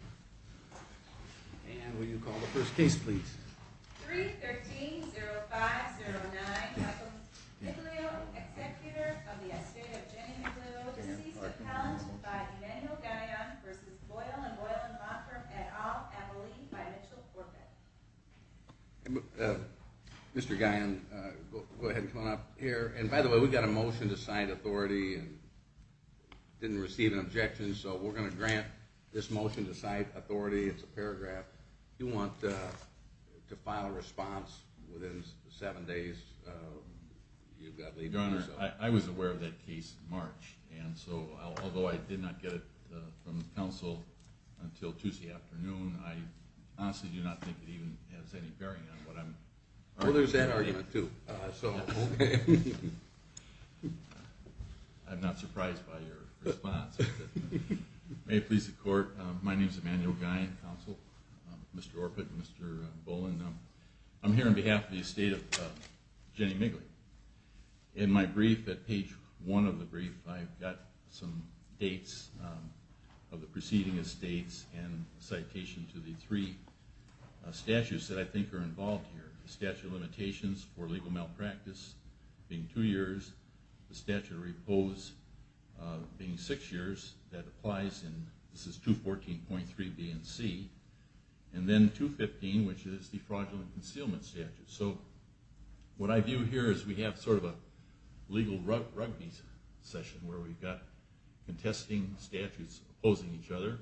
And will you call the first case please? 3-13-0-5-0-9. Michael Miglio, executor of the estate of Jenny Miglio, deceased of talent by Emanuel Guyon v. Boyle and Boyle and Law Firm, et al., Emily, by Mitchell Corbett. Mr. Guyon, go ahead and come on up here. And by the way, we got a motion to cite authority and didn't receive an objection, so we're going to grant this motion to cite authority. It's a paragraph. Do you want to file a response within seven days? Your Honor, I was aware of that case in March, and so although I did not get it from the counsel until Tuesday afternoon, I honestly do not think it even has any bearing on what I'm arguing. Well, there's that argument, too. I'm not surprised by your response. May it please the Court, my name is Emanuel Guyon, counsel. Mr. Orpett, Mr. Bolin, I'm here on behalf of the estate of Jenny Miglio. In my brief, at page one of the brief, I've got some dates of the preceding estates and citation to the three statutes that I think are involved here. The statute of limitations for legal malpractice being two years, the statute of repose being six years, that applies in 214.3 BNC, and then 215, which is the fraudulent concealment statute. So what I view here is we have sort of a legal rugby session where we've got contesting statutes opposing each other,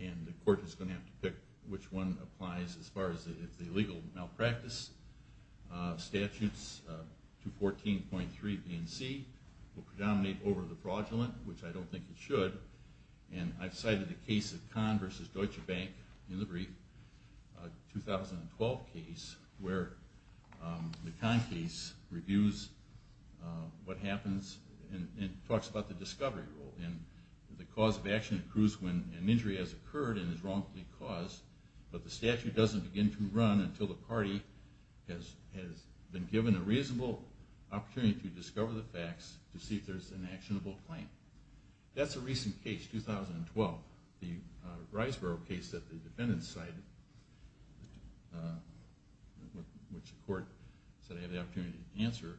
and the Court is going to have to pick which one applies as far as the legal malpractice. Statutes 214.3 BNC will predominate over the fraudulent, which I don't think it should, and I've cited the case of Kahn v. Deutsche Bank in the brief, a 2012 case, where the Kahn case reviews what happens and talks about the discovery rule. And the cause of action accrues when an injury has occurred and is wrongfully caused, but the statute doesn't begin to run until the party has been given a reasonable opportunity to discover the facts to see if there's an actionable claim. That's a recent case, 2012, the Riseboro case that the defendants cited, which the Court said I had the opportunity to answer.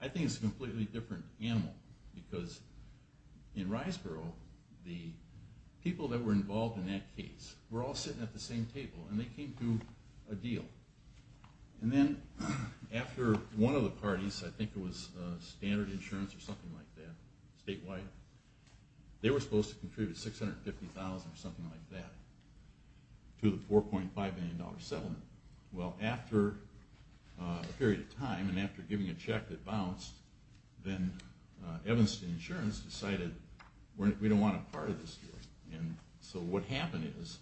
I think it's a completely different animal, because in Riseboro, the people that were involved in that case were all sitting at the same table and they came to a deal. And then after one of the parties, I think it was Standard Insurance or something like that, statewide, they were supposed to contribute $650,000 or something like that to the $4.5 million settlement. Well, after a period of time and after giving a check that bounced, then Evanston Insurance decided we don't want a part of this deal. So what happened is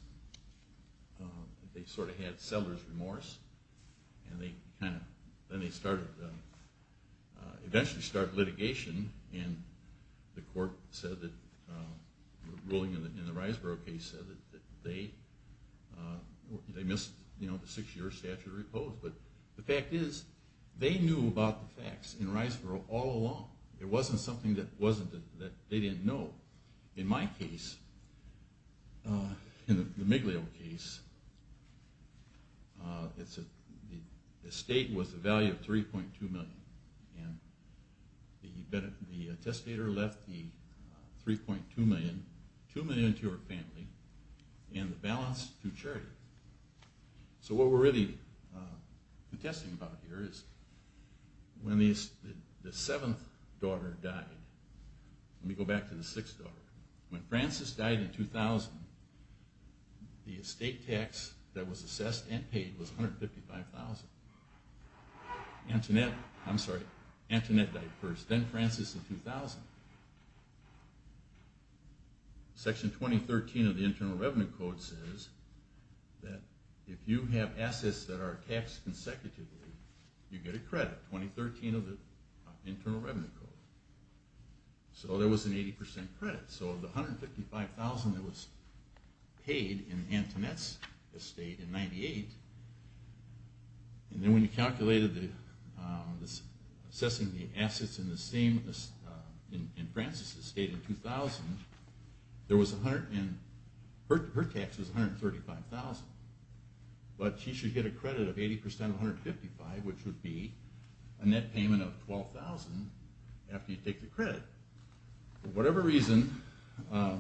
they sort of had seller's remorse and then they eventually started litigation and the court said, the ruling in the Riseboro case said that they missed the 6 year statute of repose. But the fact is, they knew about the facts in Riseboro all along. It wasn't something that they didn't know. So in my case, the Miglio case, the estate was the value of $3.2 million. The testator left the $3.2 million, $2 million to her family, and the balance to charity. So what we're really protesting about here is when the 7th daughter died, let me go back to the 6th daughter. When Frances died in 2000, the estate tax that was assessed and paid was $155,000. Antoinette died first, then Frances in 2000. Section 2013 of the Internal Revenue Code says that if you have assets that are taxed consecutively, you get a credit. 2013 of the Internal Revenue Code. So there was an 80% credit. So the $155,000 that was paid in Antoinette's estate in 1998, and then when you calculated assessing the assets in Frances' estate in 2000, her tax was $135,000. But she should get a credit of 80% of $155,000, which would be a net payment of $12,000 after you take the credit. For whatever reason, the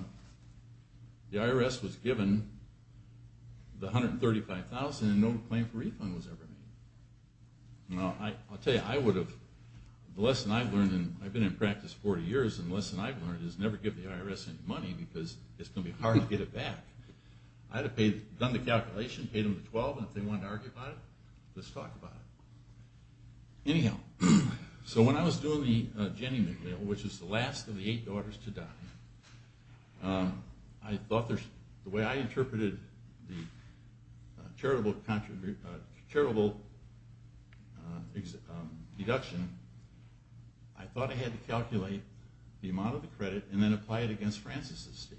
IRS was given the $135,000 and no claim for refund was ever made. I'll tell you, the lesson I've learned, I've been in practice 40 years, and the lesson I've learned is never give the IRS any money because it's going to be hard to get it back. I'd have done the calculation, paid them the $12,000, and if they wanted to argue about it, let's talk about it. Anyhow, so when I was doing the Jenny McNeil, which is the last of the eight daughters to die, the way I interpreted the charitable deduction, I thought I had to calculate the amount of the credit and then apply it against Frances' estate.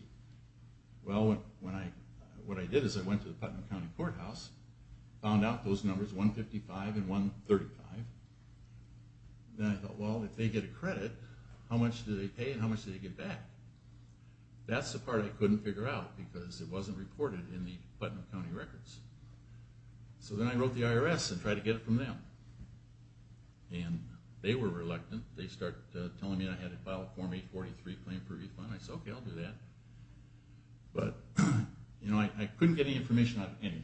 Well, what I did is I went to the Putnam County Courthouse, found out those numbers, $155,000 and $135,000, and I thought, well, if they get a credit, how much do they pay and how much do they get back? That's the part I couldn't figure out because it wasn't reported in the Putnam County records. So then I wrote the IRS and tried to get it from them. And they were reluctant. They started telling me I had to file a Form 843 claim for refund. I said, okay, I'll do that. But I couldn't get any information out of anyone.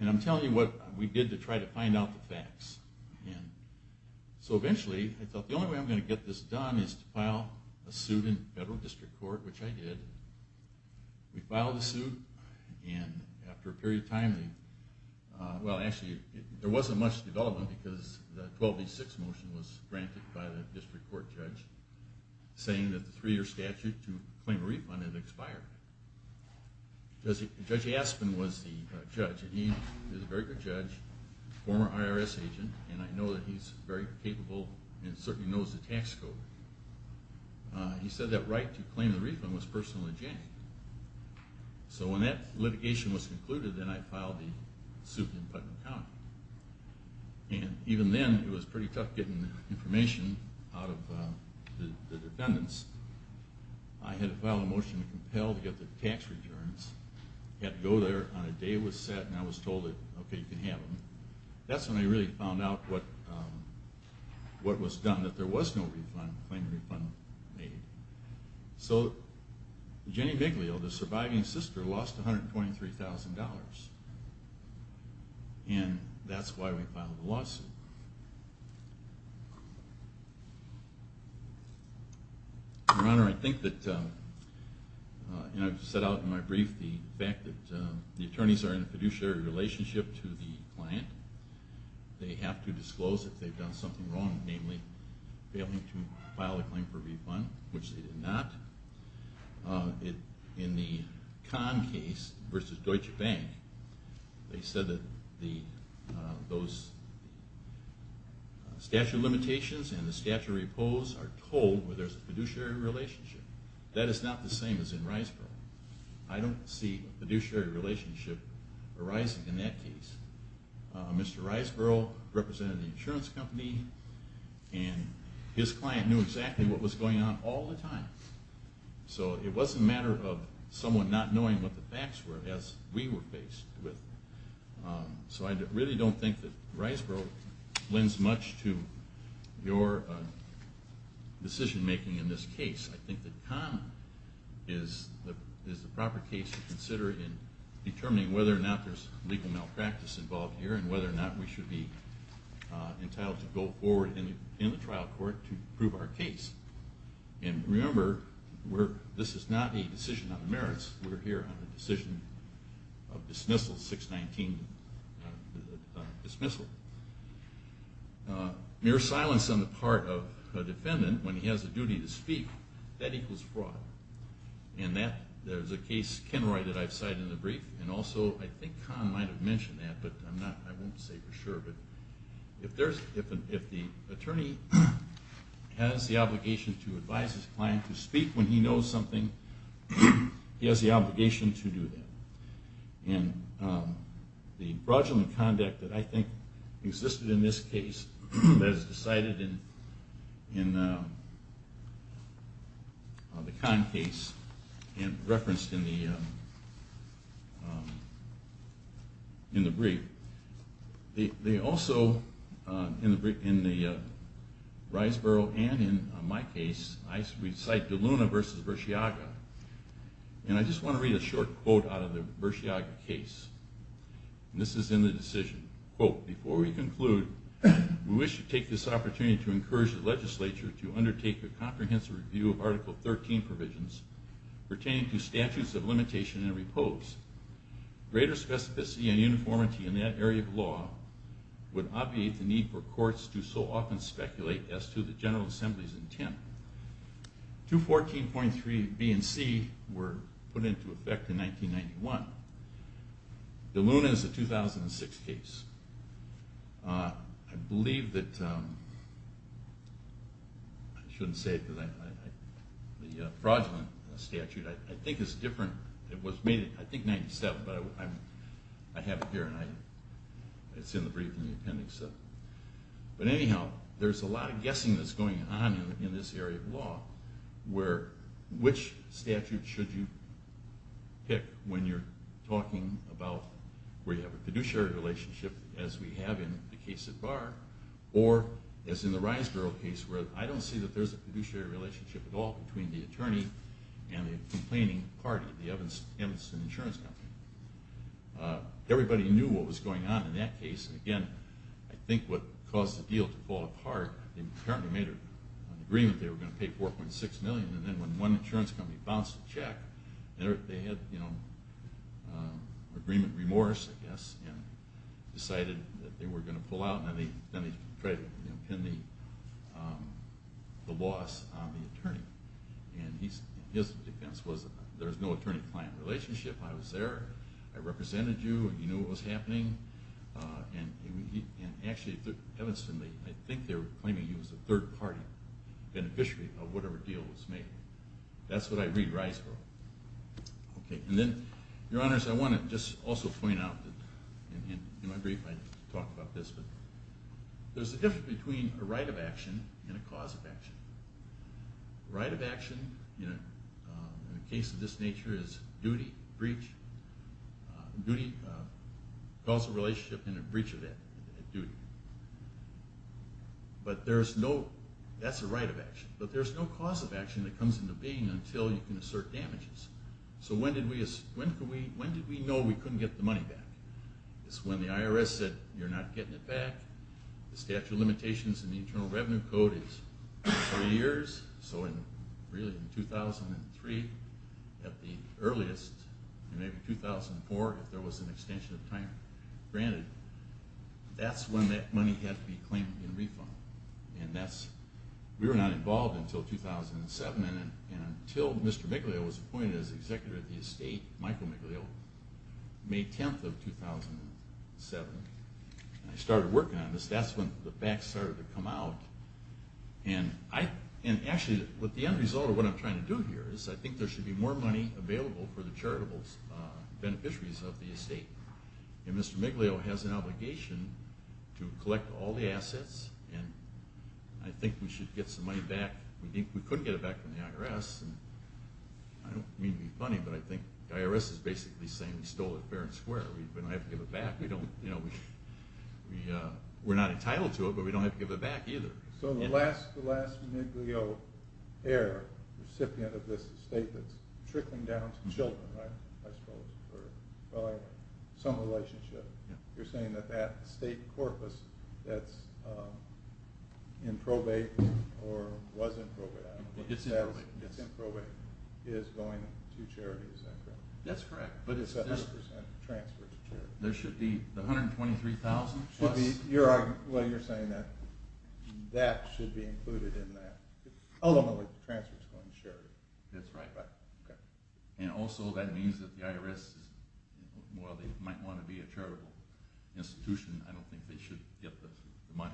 And I'm telling you what we did to try to find out the facts. So eventually, I thought the only way I'm going to get this done is to file a suit in federal district court, which I did. We filed a suit and after a period of time, well, actually, there wasn't much development because the 1286 motion was granted by the district court judge saying that the three-year statute to claim a refund had expired. Judge Aspen was the judge, and he was a very good judge, former IRS agent, and I know that he's very capable and certainly knows the tax code. He said that right to claim the refund was personally janitored. So when that litigation was concluded, then I filed the suit in Putnam County. And even then, it was pretty tough getting information out of the defendants. I had to file a motion to compel to get the tax returns. I had to go there on a day that was set and I was told, okay, you can have them. That's when I really found out what was done, that there was no claim to refund made. So Jenny Biglio, the surviving sister, lost $123,000, and that's why we filed the lawsuit. Your Honor, I think that, and I've set out in my brief the fact that the attorneys are in a fiduciary relationship to the client. They have to disclose if they've done something wrong, namely failing to file a claim for refund, which they did not. In the Kahn case versus Deutsche Bank, they said that those statute of limitations and the statute of repose are told where there's a fiduciary relationship. That is not the same as in Riceboro. I don't see a fiduciary relationship arising in that case. Mr. Riceboro represented an insurance company, and his client knew exactly what was going on all the time. So it wasn't a matter of someone not knowing what the facts were, as we were faced with. So I really don't think that Riceboro lends much to your decision making in this case. I think that Kahn is the proper case to consider in determining whether or not there's legal malpractice involved here and whether or not we should be entitled to go forward in the trial court to prove our case. And remember, this is not a decision on merits. We're here on a decision of dismissal, 619 dismissal. Mere silence on the part of a defendant when he has a duty to speak, that equals fraud. And there's a case, Kenroy, that I've cited in the brief, and also I think Kahn might have mentioned that, but I won't say for sure. But if the attorney has the obligation to advise his client to speak when he knows something, he has the obligation to do that. And the fraudulent conduct that I think existed in this case that is cited in the Kahn case and referenced in the brief, they also, in the Riceboro and in my case, I cite DeLuna v. Versiaga. And I just want to read a short quote out of the Versiaga case. And this is in the decision. Quote, before we conclude, we wish to take this opportunity to encourage the legislature to undertake a comprehensive review of Article 13 provisions pertaining to statutes of limitation and repose. Greater specificity and uniformity in that area of law would obviate the need for courts to so often speculate as to the General Assembly's intent. 214.3 B and C were put into effect in 1991. DeLuna is a 2006 case. I believe that, I shouldn't say it because the fraudulent statute, I think it's different, I think it was made in 97, but I have it here and it's in the brief and appendix. But anyhow, there's a lot of guessing that's going on in this area of law where which statute should you pick when you're talking about where you have a fiduciary relationship as we have in the case at Barr or as in the Riceboro case where I don't see that there's a fiduciary relationship at all between the attorney and the complaining party, the Emerson Insurance Company. Everybody knew what was going on in that case and again, I think what caused the deal to fall apart, they apparently made an agreement that they were going to pay $4.6 million and then when one insurance company bounced a check, they had agreement remorse, I guess, and decided that they were going to pull out and then they tried to pin the loss on the attorney. And his defense was there's no attorney-client relationship. I was there, I represented you, you knew what was happening, and actually, Emerson, I think they were claiming he was a third-party beneficiary of whatever deal was made. That's what I read Riceboro. Okay, and then, Your Honors, I want to just also point out, and in my brief I talked about this, but there's a difference between a right of action and a cause of action. Right of action, in a case of this nature, is duty, breach, causal relationship and a breach of that duty. But there's no, that's a right of action, but there's no cause of action that comes into being until you can assert damages. So when did we know we couldn't get the money back? It's when the IRS said, you're not getting it back, the statute of limitations in the Internal Revenue Code is three years, so in 2003, at the earliest, maybe 2004, if there was an extension of time granted, that's when that money had to be claimed in refund. And that's, we were not involved until 2007, and until Mr. Miglio was appointed as executor of the estate, Michael Miglio, May 10th of 2007, and I started working on this, that's when the facts started to come out, and actually, the end result of what I'm trying to do here is I think there should be more money available for the charitable beneficiaries of the estate. And Mr. Miglio has an obligation to collect all the assets, and I think we should get some money back. We couldn't get it back from the IRS, and I don't mean to be funny, but I think the IRS is basically saying we stole it fair and square, we don't have to give it back, we don't, you know, we're not entitled to it, but we don't have to give it back either. So the last Miglio heir, recipient of this estate that's trickling down to children, right, I suppose, or some relationship, you're saying that that estate corpus that's in probate, or was in probate, I don't know, it's in probate, is going to charity, is that correct? That's correct. But it's 70% transferred to charity. There should be the $123,000. Well, you're saying that that should be included in that. I don't know if the transfer is going to charity. That's right. Okay. And also that means that the IRS, while they might want to be a charitable institution, I don't think they should get the money.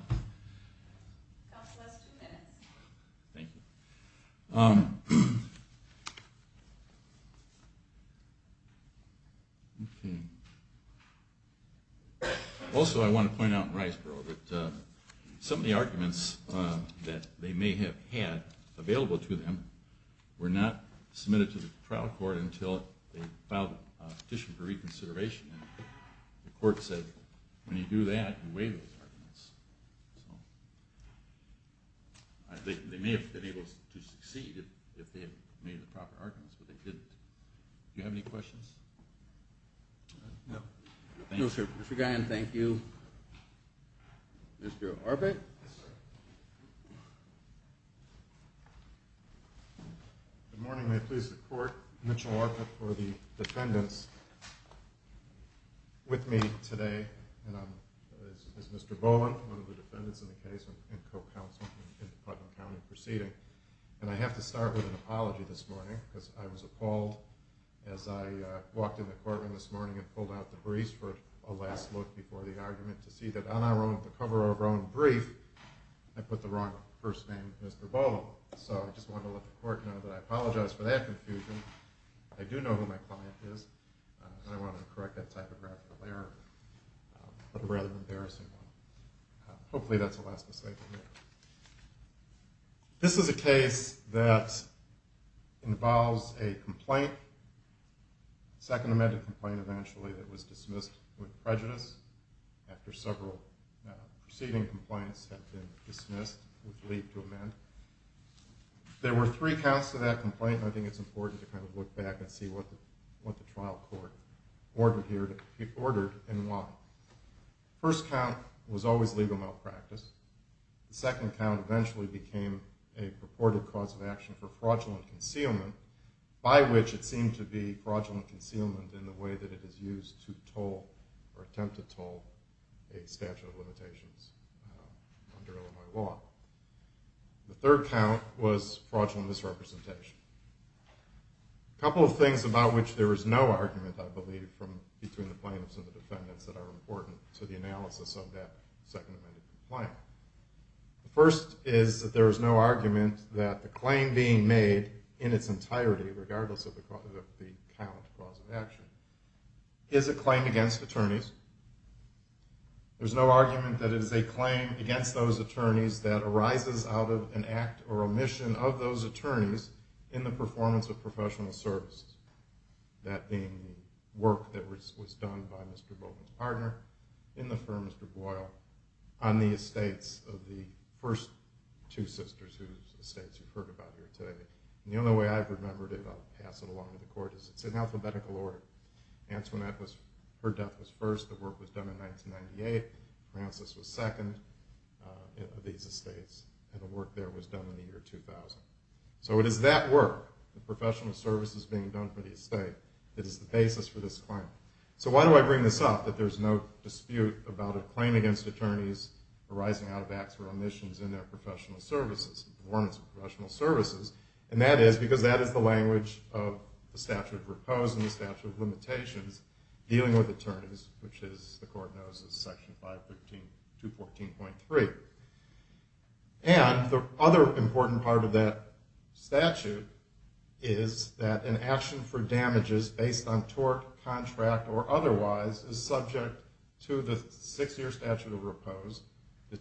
Council has two minutes. Thank you. Okay. Also I want to point out in Riceboro that some of the arguments that they may have had available to them were not submitted to the trial court until they filed a petition for reconsideration. And the court said, when you do that, you waive those arguments. So I think they may have been able to succeed if they had made the proper arguments, but they didn't. Do you have any questions? No. No, sir. Mr. Gahan, thank you. Mr. Arbett? Yes, sir. Good morning. May it please the court. Mitchell Arbett for the defendants. With me today is Mr. Boland, one of the defendants in the case and co-counsel in the Putnam County proceeding. And I have to start with an apology this morning because I was appalled as I walked in the courtroom this morning and pulled out the briefs for a last look before the argument to see that on our own, the cover of our own brief, I put the wrong first name, Mr. Boland. So I just wanted to let the court know that I apologize for that confusion. I do know who my client is, and I wanted to correct that typographical error, but a rather embarrassing one. Hopefully that's the last mistake of the day. This is a case that involves a complaint, a second amended complaint eventually that was dismissed with prejudice after several preceding complaints have been dismissed with leave to amend. There were three counts to that complaint, and I think it's important to kind of look back and see what the trial court ordered in one. First count was always legal malpractice. The second count eventually became a purported cause of action for fraudulent concealment, by which it seemed to be fraudulent concealment in the way that it is used to toll or attempt to toll a statute of limitations under Illinois law. The third count was fraudulent misrepresentation. A couple of things about which there is no argument, I believe, between the plaintiffs and the defendants that are important to the analysis of that second amended complaint. The first is that there is no argument that the claim being made in its entirety, regardless of the count, cause of action, is a claim against attorneys. There's no argument that it is a claim against those attorneys that arises out of an act or omission of those attorneys in the performance of professional services. That being work that was done by Mr. Bowman's partner in the firm, Mr. Boyle, on the estates of the first two sisters whose estates you've heard about here today. The only way I've remembered it, I'll pass it along to the court, is it's an alphabetical order. Antoinette was, her death was first, the work was done in 1998, Francis was second of these estates, and the work there was done in the year 2000. So it is that work, the professional services being done for the estate, that is the basis for this claim. So why do I bring this up, that there's no dispute about a claim against attorneys arising out of acts or omissions in their professional services, and that is because that is the language of the statute of repose and the statute of limitations dealing with attorneys, which the court knows is section 514.3. And the other important part of that statute is that an action for damages based on tort, contract, or otherwise is subject to the six-year statute of repose,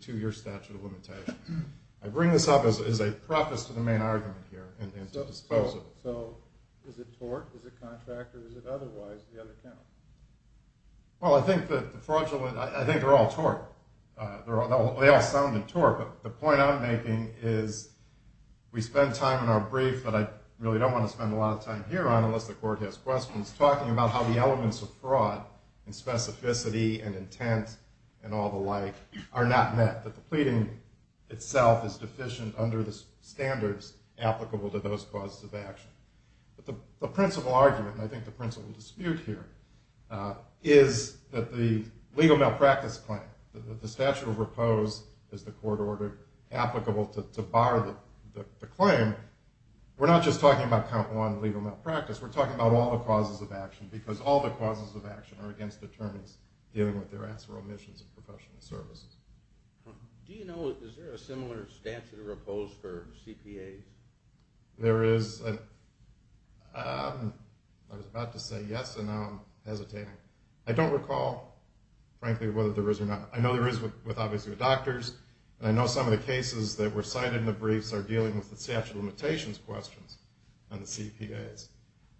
and I bring this up as a preface to the main argument here. So is it tort, is it contract, or is it otherwise? Well, I think that the fraudulent, I think they're all tort. They all sound in tort, but the point I'm making is we spend time in our brief, but I really don't want to spend a lot of time here on it unless the court has questions, talking about how the elements of fraud and specificity and intent and all the like are not met. That the pleading itself is deficient under the standards applicable to those causes of action. But the principal argument, and I think the principal dispute here, is that the legal malpractice claim, that the statute of repose is the court order applicable to bar the claim, we're not just talking about count one legal malpractice. We're talking about all the causes of action because all the causes of action are against attorneys dealing with their acts or omissions in professional services. Do you know, is there a similar statute of repose for CPAs? There is. I was about to say yes, and now I'm hesitating. I don't recall, frankly, whether there is or not. I know there is with obviously the doctors, and I know some of the cases that were cited in the briefs are dealing with the statute of limitations questions on the CPAs.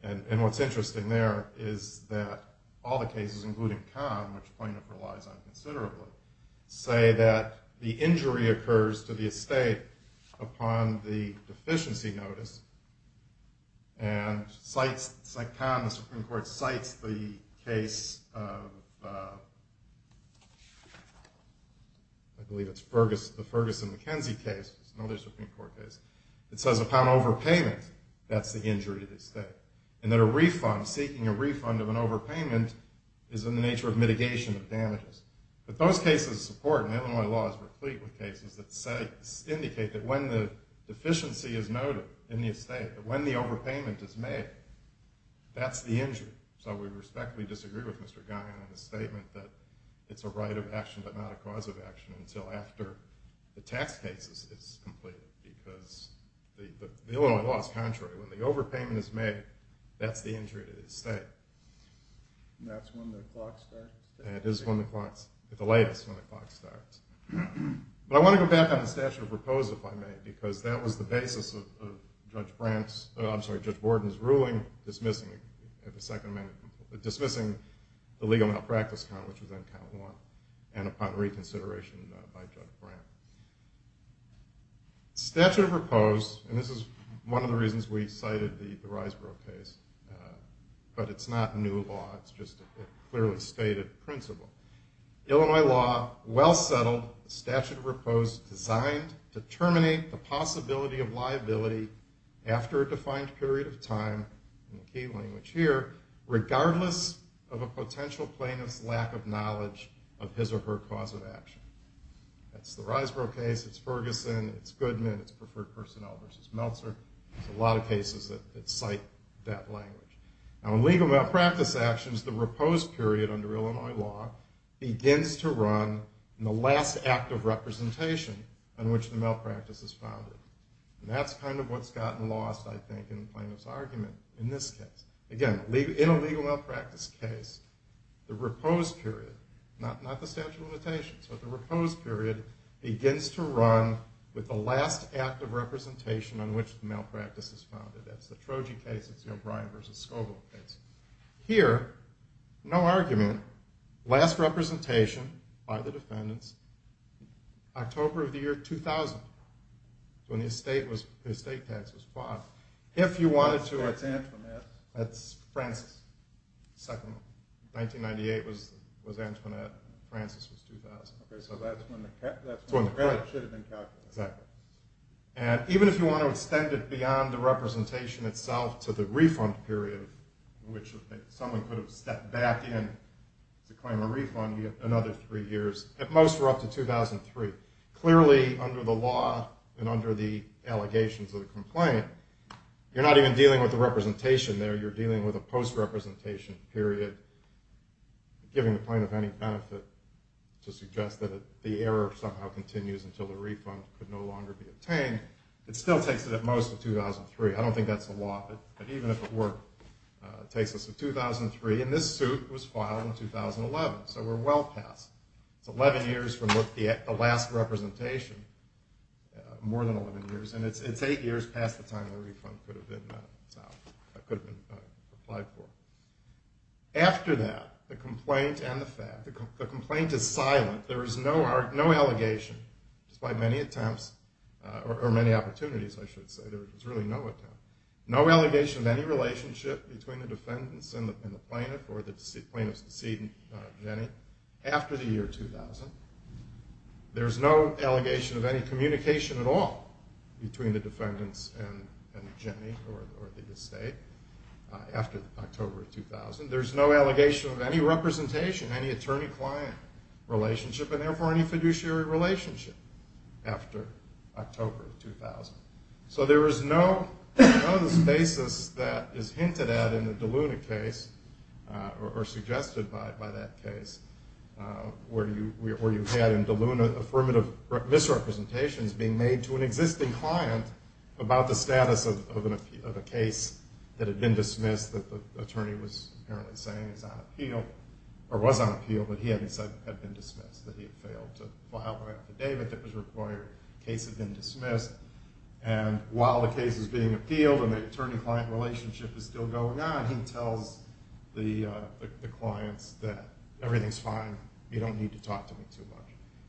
And what's interesting there is that all the cases, including Conn, which plaintiff relies on considerably, say that the injury occurs to the estate upon the deficiency notice. And Conn, the Supreme Court, cites the case of, I believe it's the Ferguson-McKenzie case. It's another Supreme Court case. It says upon overpayment, that's the injury to the estate. And that a refund, seeking a refund of an overpayment, is in the nature of mitigation of damages. But those cases support, and Illinois law is replete with cases that say, indicate that when the deficiency is noted in the estate, that when the overpayment is made, that's the injury. So we respectfully disagree with Mr. Guy on the statement that it's a right of action, but not a cause of action until after the tax case is completed. Because the Illinois law is contrary. When the overpayment is made, that's the injury to the estate. And that's when the clock starts? It is when the clock starts. It's the latest when the clock starts. But I want to go back on the statute of repose, if I may, because that was the basis of Judge Borden's ruling dismissing the second amendment, dismissing the legal malpractice count, which was on count one, and upon reconsideration by Judge Brandt. Statute of repose, and this is one of the reasons we cited the Riseboro case, but it's not new law. It's just a clearly stated principle. Illinois law, well settled, statute of repose designed to terminate the possibility of liability after a defined period of time, in the key language here, regardless of a potential plaintiff's lack of knowledge of his or her cause of action. That's the Riseboro case, it's Ferguson, it's Goodman, it's preferred personnel versus Meltzer. There's a lot of cases that cite that language. Now in legal malpractice actions, the repose period under Illinois law begins to run in the last act of representation on which the malpractice is founded. And that's kind of what's gotten lost, I think, in the plaintiff's argument in this case. Again, in a legal malpractice case, the repose period, not the statute of limitations, but the repose period begins to run with the last act of representation on which the malpractice is founded. That's the Troji case, it's the O'Brien versus Scoble case. Here, no argument, last representation by the defendants, October of the year 2000, when the estate tax was filed. If you wanted to... That's Antoinette. That's Francis. 1998 was Antoinette, Francis was 2000. So that's when the credit should have been calculated. Exactly. And even if you want to extend it beyond the representation itself to the refund period, which someone could have stepped back in to claim a refund another three years, at most we're up to 2003. Clearly, under the law and under the allegations of the complaint, you're not even dealing with the representation there, you're dealing with a post-representation period, giving the plaintiff any benefit to suggest that the error somehow continues until the refund could no longer be obtained. It still takes it at most to 2003. I don't think that's the law, but even if it were, it takes us to 2003. And this suit was filed in 2011, so we're well past. It's 11 years from the last representation, more than 11 years, and it's eight years past the time the refund could have been applied for. After that, the complaint is silent. There is no allegation, despite many attempts or many opportunities, I should say. There was really no attempt. No allegation of any relationship between the defendants and the plaintiff or the plaintiff's decedent, Jenny, after the year 2000. There's no allegation of any communication at all between the defendants and Jenny or the estate after October of 2000. There's no allegation of any representation, any attorney-client relationship, and therefore any fiduciary relationship after October of 2000. So there is no basis that is hinted at in the DeLuna case or suggested by that case where you had in DeLuna affirmative misrepresentations being made to an existing client about the status of a case that had been dismissed, that the attorney was apparently saying was on appeal, or was on appeal, but he hadn't said had been dismissed, that he had failed to file an affidavit that was required. The case had been dismissed. And while the case is being appealed and the attorney-client relationship is still going on, he tells the clients that everything's fine, you don't need to talk to me too much.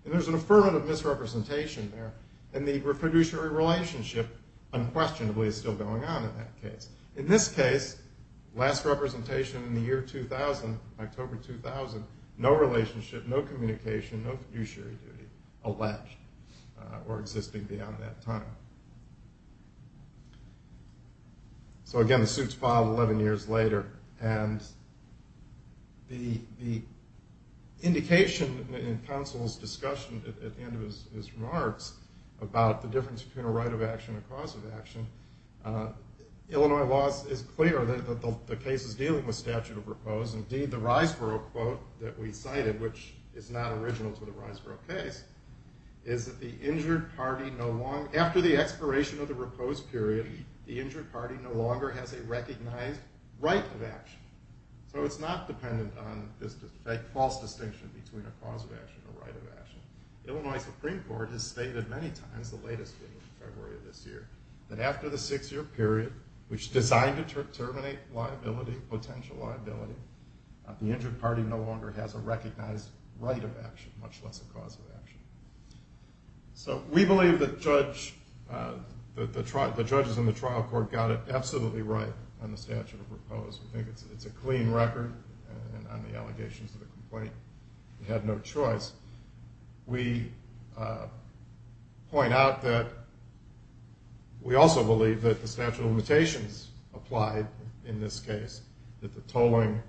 And there's an affirmative misrepresentation there. And the fiduciary relationship, unquestionably, is still going on in that case. In this case, last representation in the year 2000, October 2000, no relationship, no communication, no fiduciary duty alleged or existing beyond that time. So again, the suit's filed 11 years later. And the indication in counsel's discussion at the end of his remarks about the difference between a right of action and a cause of action, Illinois law is clear that the case is dealing with statute of repose. Indeed, the Riseboro quote that we cited, which is not original to the Riseboro case, is that the injured party no longer, after the expiration of the repose period, the injured party no longer has a recognized right of action. So it's not dependent on this false distinction between a cause of action and a right of action. Illinois Supreme Court has stated many times, the latest one in February of this year, that after the six-year period, which is designed to terminate liability, potential liability, the injured party no longer has a recognized right of action, much less a cause of action. So we believe that the judges in the trial court got it absolutely right on the statute of repose. We think it's a clean record on the allegations of the complaint. They had no choice. We point out that we also believe that the statute of limitations applied in this case, that the tolling,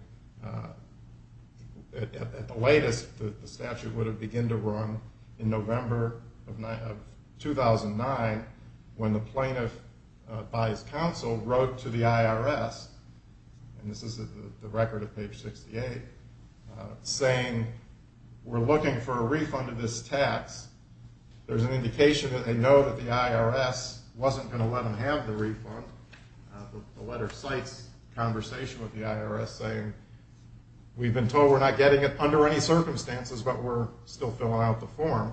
at the latest, the statute would have begun to run in November of 2009, when the plaintiff, by his counsel, wrote to the IRS, and this is the record of page 68, saying, we're looking for a refund of this tax. There's an indication that they know that the IRS wasn't going to let them have the refund. The letter cites a conversation with the IRS saying, we've been told we're not getting it under any circumstances, but we're still filling out the form.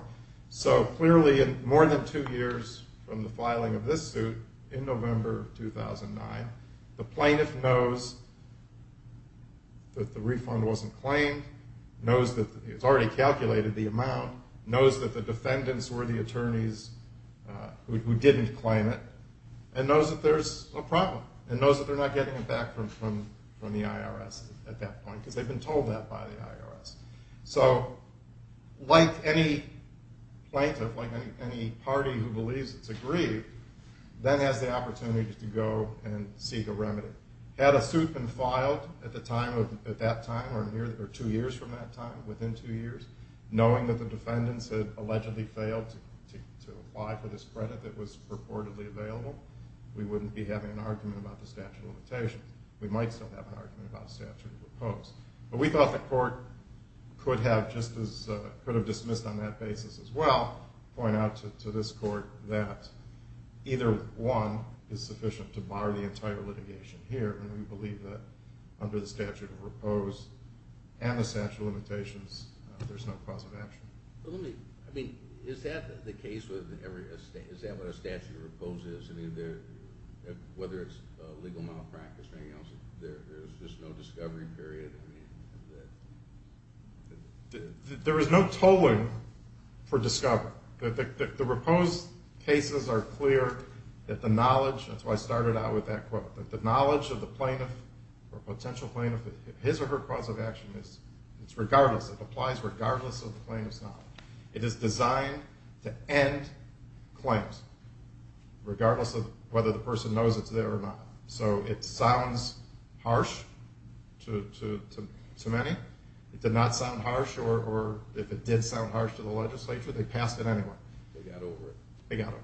So clearly, in more than two years from the filing of this suit, in November of 2009, the plaintiff knows that the refund wasn't claimed, knows that it's already calculated the amount, knows that the defendants were the attorneys who didn't claim it, and knows that there's a problem, and knows that they're not getting it back from the IRS at that point, because they've been told that by the IRS. So like any plaintiff, like any party who believes it's agreed, that has the opportunity to go and seek a remedy. Had a suit been filed at that time, or two years from that time, within two years, knowing that the defendants had allegedly failed to apply for this credit that was purportedly available, we wouldn't be having an argument about the statute of limitations. We might still have an argument about a statute of repose. But we thought the court could have dismissed on that basis as well, point out to this court that either one is sufficient to bar the entire litigation here, and we believe that under the statute of repose and the statute of limitations, there's no cause of action. I mean, is that the case with every, is that what a statute of repose is? I mean, whether it's legal malpractice or anything else, there's just no discovery period? There is no tolling for discovery. The repose cases are clear that the knowledge, that's why I started out with that quote, that the knowledge of the plaintiff or potential plaintiff, his or her cause of action, it's regardless, it applies regardless of the plaintiff's knowledge. It is designed to end claims, regardless of whether the person knows it's there or not. So it sounds harsh to many. It did not sound harsh, or if it did sound harsh to the legislature, they passed it anyway. They got over it. They got over it.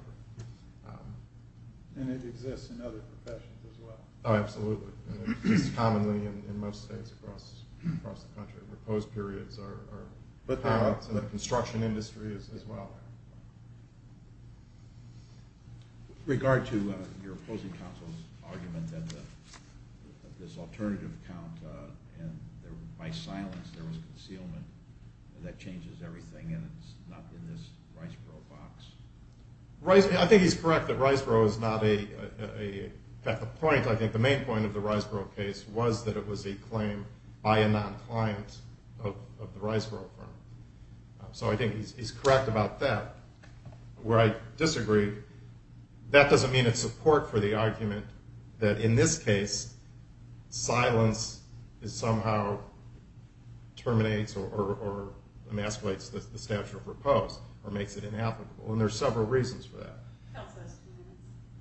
And it exists in other professions as well. Oh, absolutely. It exists commonly in most states across the country. Repose periods are part of the construction industry as well. With regard to your opposing counsel's argument that this alternative count, and by silence there was concealment, that changes everything, and it's not in this Riceboro box. I think he's correct that Riceboro is not a, at the point, I think the main point of the Riceboro case was that it was a claim by a non-client of the Riceboro firm. So I think he's correct about that. Where I disagree, that doesn't mean it's support for the argument that in this case, silence somehow terminates or emasculates the statute of repose, or makes it inapplicable. And there are several reasons for that.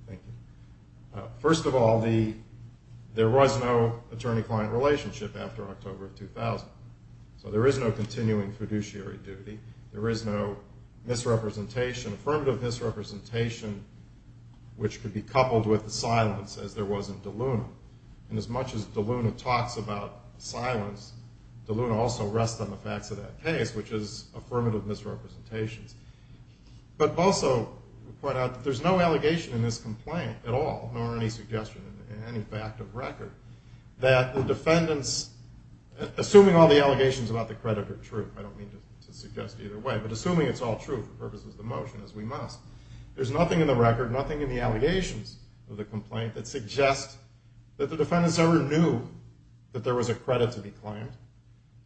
Thank you. First of all, there was no attorney-client relationship after October of 2000. So there is no continuing fiduciary duty. There is no misrepresentation, affirmative misrepresentation, which could be coupled with the silence as there was in De Luna. And as much as De Luna talks about silence, De Luna also rests on the facts of that case, which is affirmative misrepresentations. But also point out that there's no allegation in this complaint at all, nor any suggestion in any fact of record, that the defendants, assuming all the allegations about the credit are true, I don't mean to suggest either way, but assuming it's all true for purposes of the motion, as we must, there's nothing in the record, nothing in the allegations of the complaint, that suggests that the defendants ever knew that there was a credit to be claimed,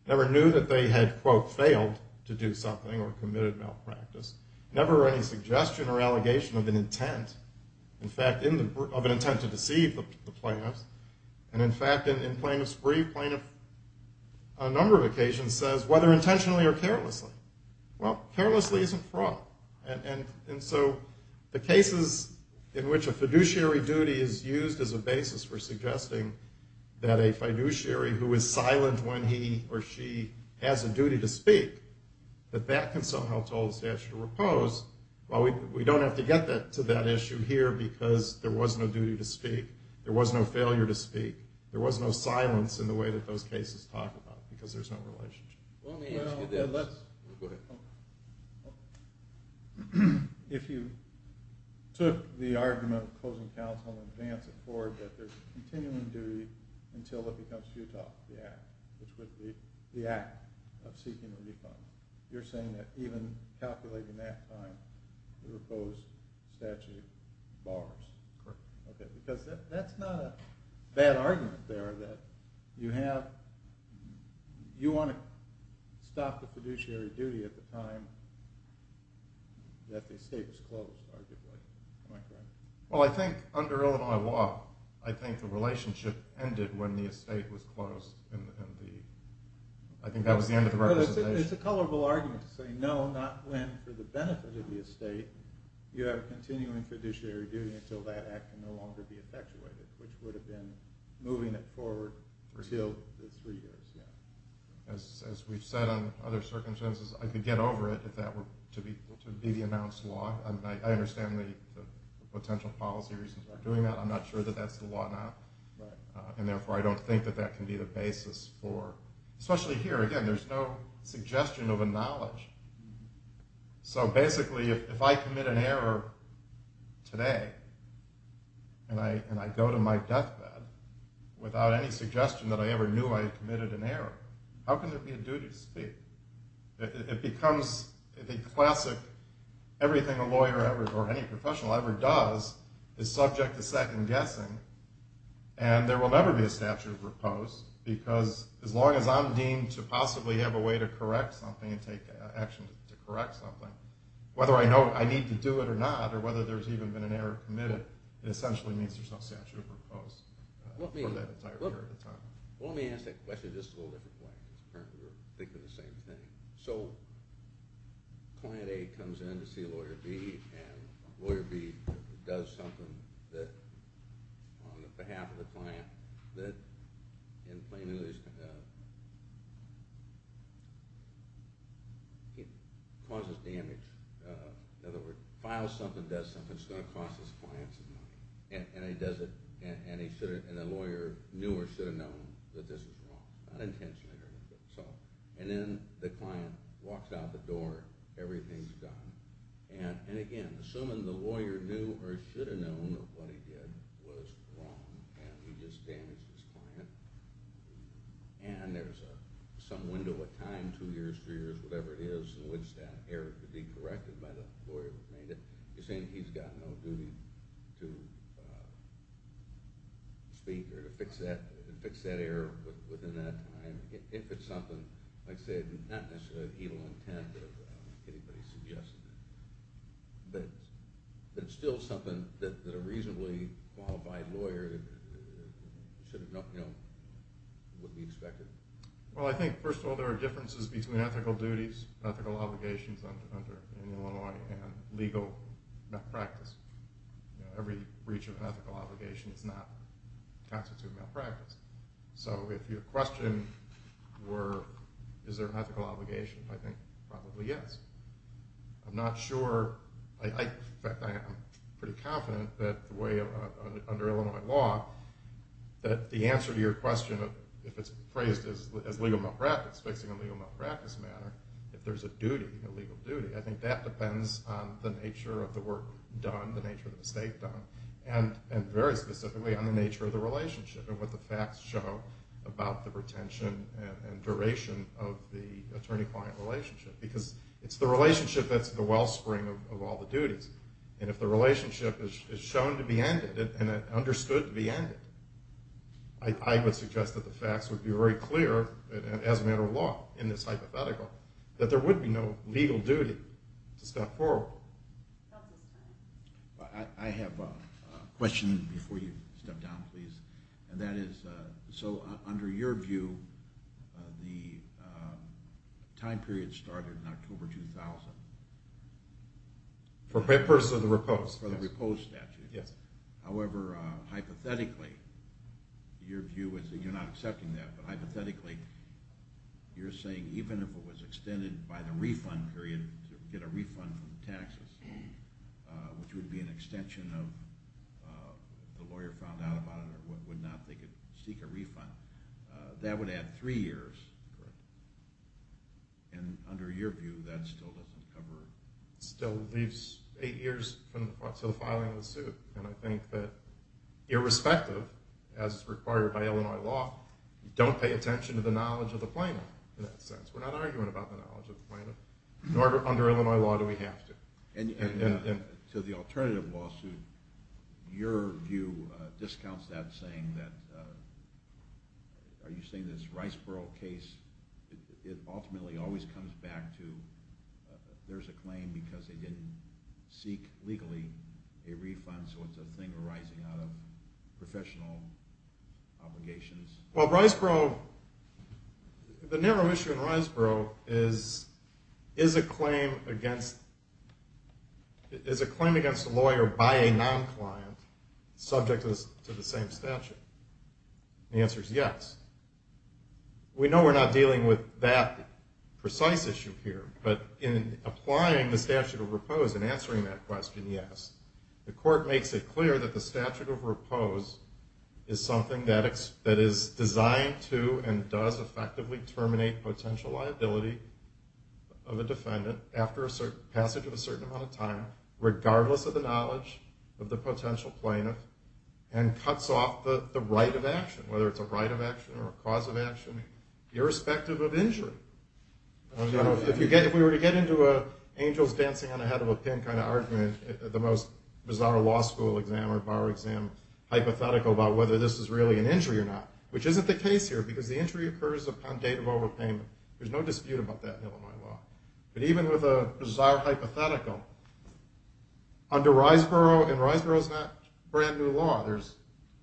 never knew that they had, quote, failed to do something or committed malpractice, never any suggestion or allegation of an intent, in fact, of an intent to deceive the plaintiffs. And in fact, in plaintiff's brief, plaintiff on a number of occasions says, whether intentionally or carelessly, well, carelessly isn't wrong. And so the cases in which a fiduciary duty is used as a basis for suggesting that a fiduciary who is silent when he or she has a duty to speak, that that can somehow hold a statute of repose. Well, we don't have to get to that issue here because there was no duty to speak. There was no failure to speak. There was no silence in the way that those cases talk about it because there's no relationship. Well, let me ask you this. Go ahead. If you took the argument of closing counsel and advance it forward that there's continuing duty until it becomes futile, the act, which would be the act of seeking a refund, you're saying that even calculating that time, the repose statute bars? Correct. Okay, because that's not a bad argument there that you have – you want to stop the fiduciary duty at the time that the estate was closed, arguably. Am I correct? Well, I think under Illinois law, I think the relationship ended when the estate was closed. I think that was the end of the representation. It's a colorable argument to say no, not when, for the benefit of the estate, you have continuing fiduciary duty until that act can no longer be effectuated, which would have been moving it forward until the three years. As we've said on other circumstances, I could get over it if that were to be the announced law. I understand the potential policy reasons for doing that. I'm not sure that that's the law now, and therefore I don't think that that can be the basis for – especially here. Again, there's no suggestion of a knowledge. So basically, if I commit an error today and I go to my deathbed without any suggestion that I ever knew I had committed an error, how can there be a duty to speak? It becomes the classic – everything a lawyer ever – or any professional ever does is subject to second guessing, and there will never be a statute of repose because as long as I'm deemed to possibly have a way to correct something and take action to correct something, whether I know I need to do it or not or whether there's even been an error committed, it essentially means there's no statute of repose for that entire period of time. Let me ask that question just a little different way because apparently we're thinking the same thing. So client A comes in to see lawyer B, and lawyer B does something that, on behalf of the client, that in plain English causes damage. In other words, files something, does something, it's going to cost his client some money. And he does it, and the lawyer knew or should have known that this was wrong. Not intentionally, I don't know. And then the client walks out the door, everything's gone. And again, assuming the lawyer knew or should have known that what he did was wrong and he just damaged his client, and there's some window of time, two years, three years, whatever it is in which that error could be corrected by the lawyer who made it, you're saying he's got no duty to speak or to fix that error within that time. If it's something, like I said, not necessarily of evil intent or anybody suggested it, but it's still something that a reasonably qualified lawyer should have known, would be expected. Well, I think, first of all, there are differences between ethical duties, ethical obligations under Illinois, and legal malpractice. Every breach of an ethical obligation is not constituted malpractice. So if your question were, is there an ethical obligation, I think probably yes. I'm not sure, in fact, I'm pretty confident that the way under Illinois law, that the answer to your question, if it's phrased as legal malpractice, fixing a legal malpractice matter, if there's a duty, a legal duty, I think that depends on the nature of the work done, the nature of the mistake done, and very specifically on the nature of the relationship and what the facts show about the retention and duration of the attorney-client relationship. Because it's the relationship that's the wellspring of all the duties. And if the relationship is shown to be ended and understood to be ended, I would suggest that the facts would be very clear, as a matter of law, in this hypothetical, that there would be no legal duty to step forward. I have a question before you step down, please. And that is, so under your view, the time period started in October 2000. For papers of the repose. For the repose statute. Yes. However, hypothetically, your view is, and you're not accepting that, but hypothetically, you're saying even if it was extended by the refund period, to get a refund from the taxes, which would be an extension of the lawyer found out about it or would not, they could seek a refund, that would add three years. Correct. And under your view, that still doesn't cover... Still leaves eight years to the filing of the suit. And I think that irrespective, as required by Illinois law, don't pay attention to the knowledge of the plaintiff in that sense. We're not arguing about the knowledge of the plaintiff. Nor under Illinois law do we have to. And to the alternative lawsuit, your view discounts that, saying that, are you saying this Riceboro case, it ultimately always comes back to there's a claim because they didn't seek legally a refund, so it's a thing arising out of professional obligations. Well, Riceboro, the narrow issue in Riceboro is, is a claim against a lawyer by a non-client subject to the same statute? The answer is yes. We know we're not dealing with that precise issue here, but in applying the statute of repose and answering that question, yes. The court makes it clear that the statute of repose is something that is designed to and does effectively terminate potential liability of a defendant after passage of a certain amount of time, regardless of the knowledge of the potential plaintiff, and cuts off the right of action, whether it's a right of action or a cause of action, irrespective of injury. If we were to get into an angels dancing on the head of a pin kind of argument, the most bizarre law school exam or bar exam hypothetical about whether this is really an injury or not, which isn't the case here because the injury occurs upon date of overpayment. There's no dispute about that in Illinois law. But even with a bizarre hypothetical, under Riceboro, and Riceboro's not brand new law, there's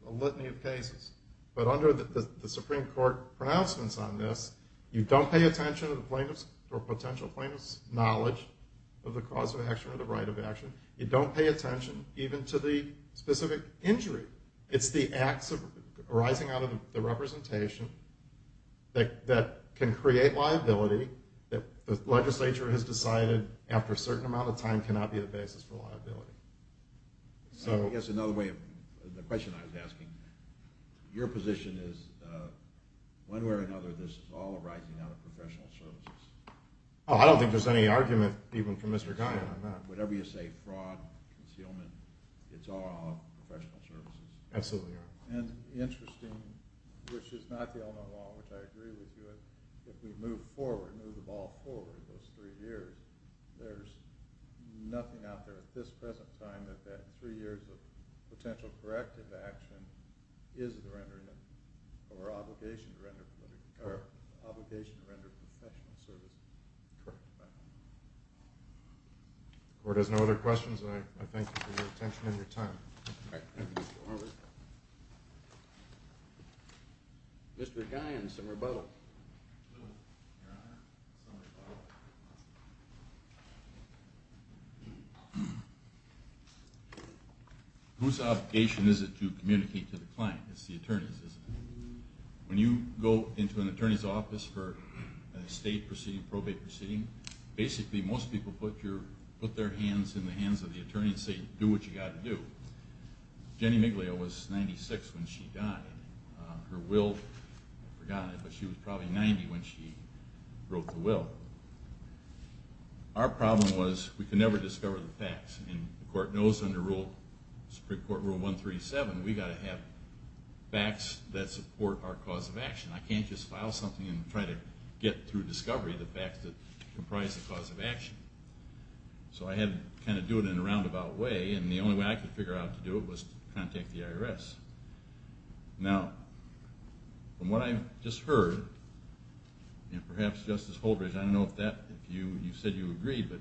a litany of cases, but under the Supreme Court pronouncements on this, you don't pay attention to the plaintiff's or potential plaintiff's knowledge of the cause of action or the right of action. You don't pay attention even to the specific injury. It's the acts arising out of the representation that can create liability that the legislature has decided after a certain amount of time cannot be the basis for liability. I guess another way of, the question I was asking, your position is, one way or another, this is all arising out of professional services. Oh, I don't think there's any argument, even from Mr. Kion on that. Whatever you say, fraud, concealment, it's all out of professional services. Absolutely. And interesting, which is not the Illinois law, which I agree with you, if we move forward, move the ball forward those three years, there's nothing out there at this present time that that three years of potential corrective action is the rendering of, or obligation to render, obligation to render professional services. Correct. If the court has no other questions, I thank you for your attention and your time. Thank you, Mr. Harbert. Mr. Kion, some rebuttal. Your Honor, some rebuttal. Whose obligation is it to communicate to the client? It's the attorney's, isn't it? When you go into an attorney's office for a state proceeding, probate proceeding, basically most people put their hands in the hands of the attorney and say, do what you've got to do. Jenny Miglia was 96 when she died. Her will, I've forgotten it, but she was probably 90 when she wrote the will. Our problem was we could never discover the facts, and the court knows under Supreme Court Rule 137 we've got to have facts that support our cause of action. I can't just file something and try to get through discovery the facts that comprise the cause of action. So I had to kind of do it in a roundabout way, and the only way I could figure out how to do it was to contact the IRS. Now, from what I've just heard, and perhaps Justice Holdridge, I don't know if you said you agree, but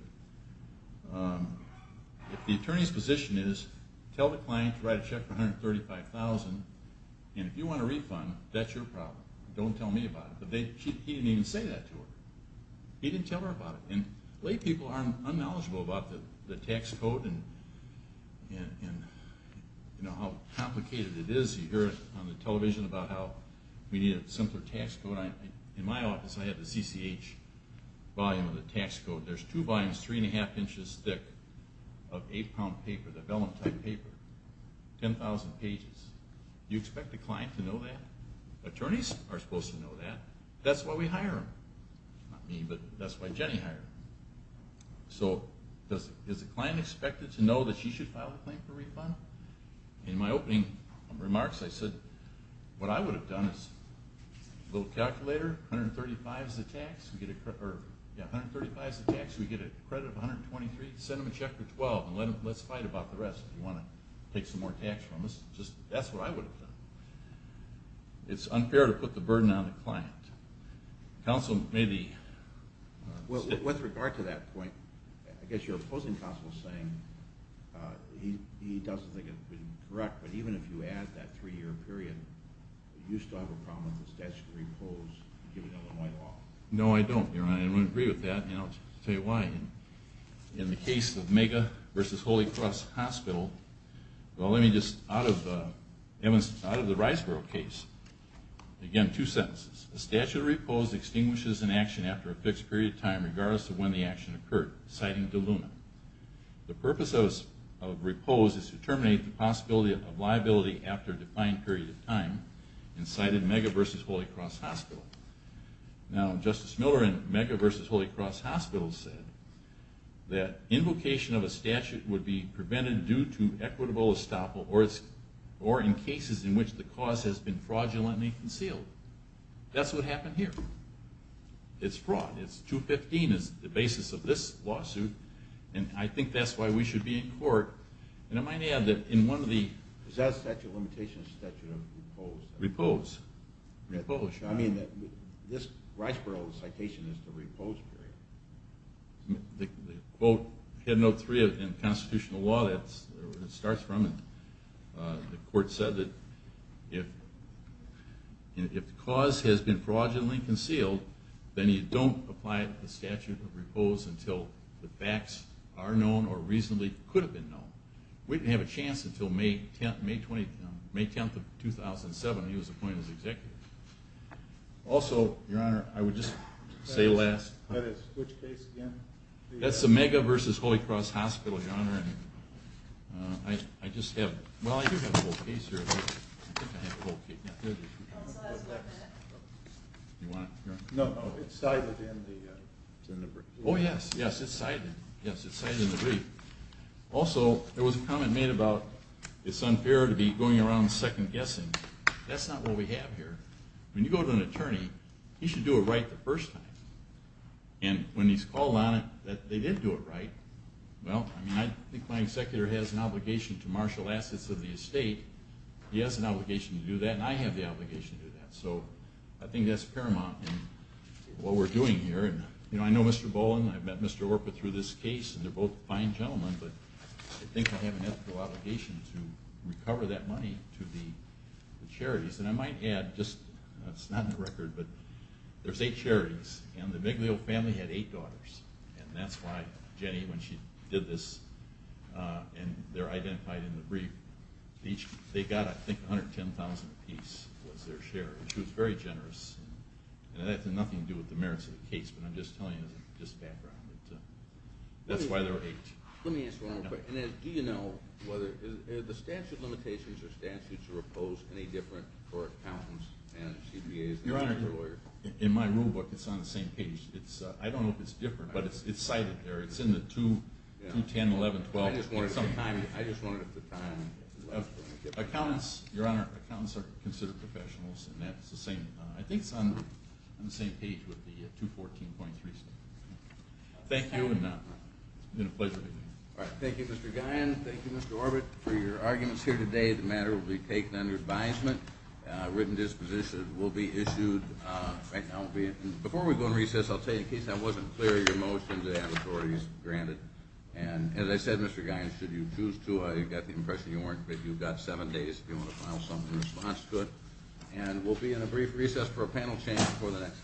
if the attorney's position is tell the client to write a check for $135,000, and if you want a refund, that's your problem. Don't tell me about it. But he didn't even say that to her. He didn't tell her about it. And laypeople are unknowledgeable about the tax code and how complicated it is. You hear it on the television about how we need a simpler tax code. In my office I have the CCH volume of the tax code. There's two volumes, 3 1⁄2 inches thick, of 8-pound paper, the vellum-type paper, 10,000 pages. You expect the client to know that? Attorneys are supposed to know that. That's why we hire them. Not me, but that's why Jenny hired them. So is the client expected to know that she should file a claim for refund? In my opening remarks I said, what I would have done is a little calculator, $135 is the tax, we get a credit of $123, send them a check for $12, and let's fight about the rest. If you want to take some more tax from us, that's what I would have done. It's unfair to put the burden on the client. Council may be... With regard to that point, I guess you're opposing Council's saying, he doesn't think it would be correct, but even if you add that 3-year period, you still have a problem with the statutory clause given Illinois law. No, I don't. I don't agree with that. I'll tell you why. In the case of Mega v. Holy Cross Hospital, out of the Riceboro case, again, two sentences. The statute of repose extinguishes an action after a fixed period of time regardless of when the action occurred, citing DeLuna. The purpose of repose is to terminate the possibility of liability after a defined period of time, and cited Mega v. Holy Cross Hospital. Now, Justice Miller in Mega v. Holy Cross Hospital said that invocation of a statute would be prevented due to equitable estoppel or in cases in which the cause has been fraudulently concealed. That's what happened here. It's fraud. It's 215. It's the basis of this lawsuit, and I think that's why we should be in court. And I might add that in one of the... Is that a statute of limitation or a statute of repose? Repose. I mean, this Riceboro citation is the repose period. The quote, head note three in constitutional law, that's where it starts from. The court said that if the cause has been fraudulently concealed, then you don't apply the statute of repose until the facts are known or reasonably could have been known. We didn't have a chance until May 10, 2007 when he was appointed as executive. Also, Your Honor, I would just say last... Which case again? That's the Mega v. Holy Cross Hospital, Your Honor, and I just have... Well, I do have a whole case here. No, it's cited in the... Oh, yes, yes, it's cited in the brief. Also, there was a comment made about it's unfair to be going around second-guessing. That's not what we have here. When you go to an attorney, he should do it right the first time. And when he's called on it that they did do it right, well, I think my executor has an obligation to marshal assets of the estate. He has an obligation to do that, and I have the obligation to do that. So I think that's paramount in what we're doing here. I know Mr. Boland, I've met Mr. Orpa through this case, and they're both fine gentlemen, but I think I have an ethical obligation to recover that money to the charities. And I might add, just... It's not in the record, but there's 8 charities, and the Miglio family had 8 daughters. And that's why Jenny, when she did this, and they're identified in the brief, they got, I think, $110,000 apiece was their share. And she was very generous. And that had nothing to do with the merits of the case, but I'm just telling you as a background. That's why there were 8. Let me ask one more question. Do you know whether the statute limitations or statutes are opposed any different for accountants and CBAs? Your Honor, in my rulebook, it's on the same page. I don't know if it's different, but it's cited there. It's in the 210, 11, 12. I just wanted the time. Your Honor, accountants are considered professionals, and I think it's on the same page with the 214.3 statute. Thank you, and it's been a pleasure meeting you. Thank you, Mr. Guyon. Thank you, Mr. Orbit, for your arguments here today. The matter will be taken under advisement. Written dispositions will be issued. Before we go into recess, I'll tell you, in case that wasn't clear, your motion today on authority is granted. And as I said, Mr. Guyon, should you choose to, I got the impression you've got seven days if you want to file something in response to it. And we'll be in a brief recess for a panel change before the next case.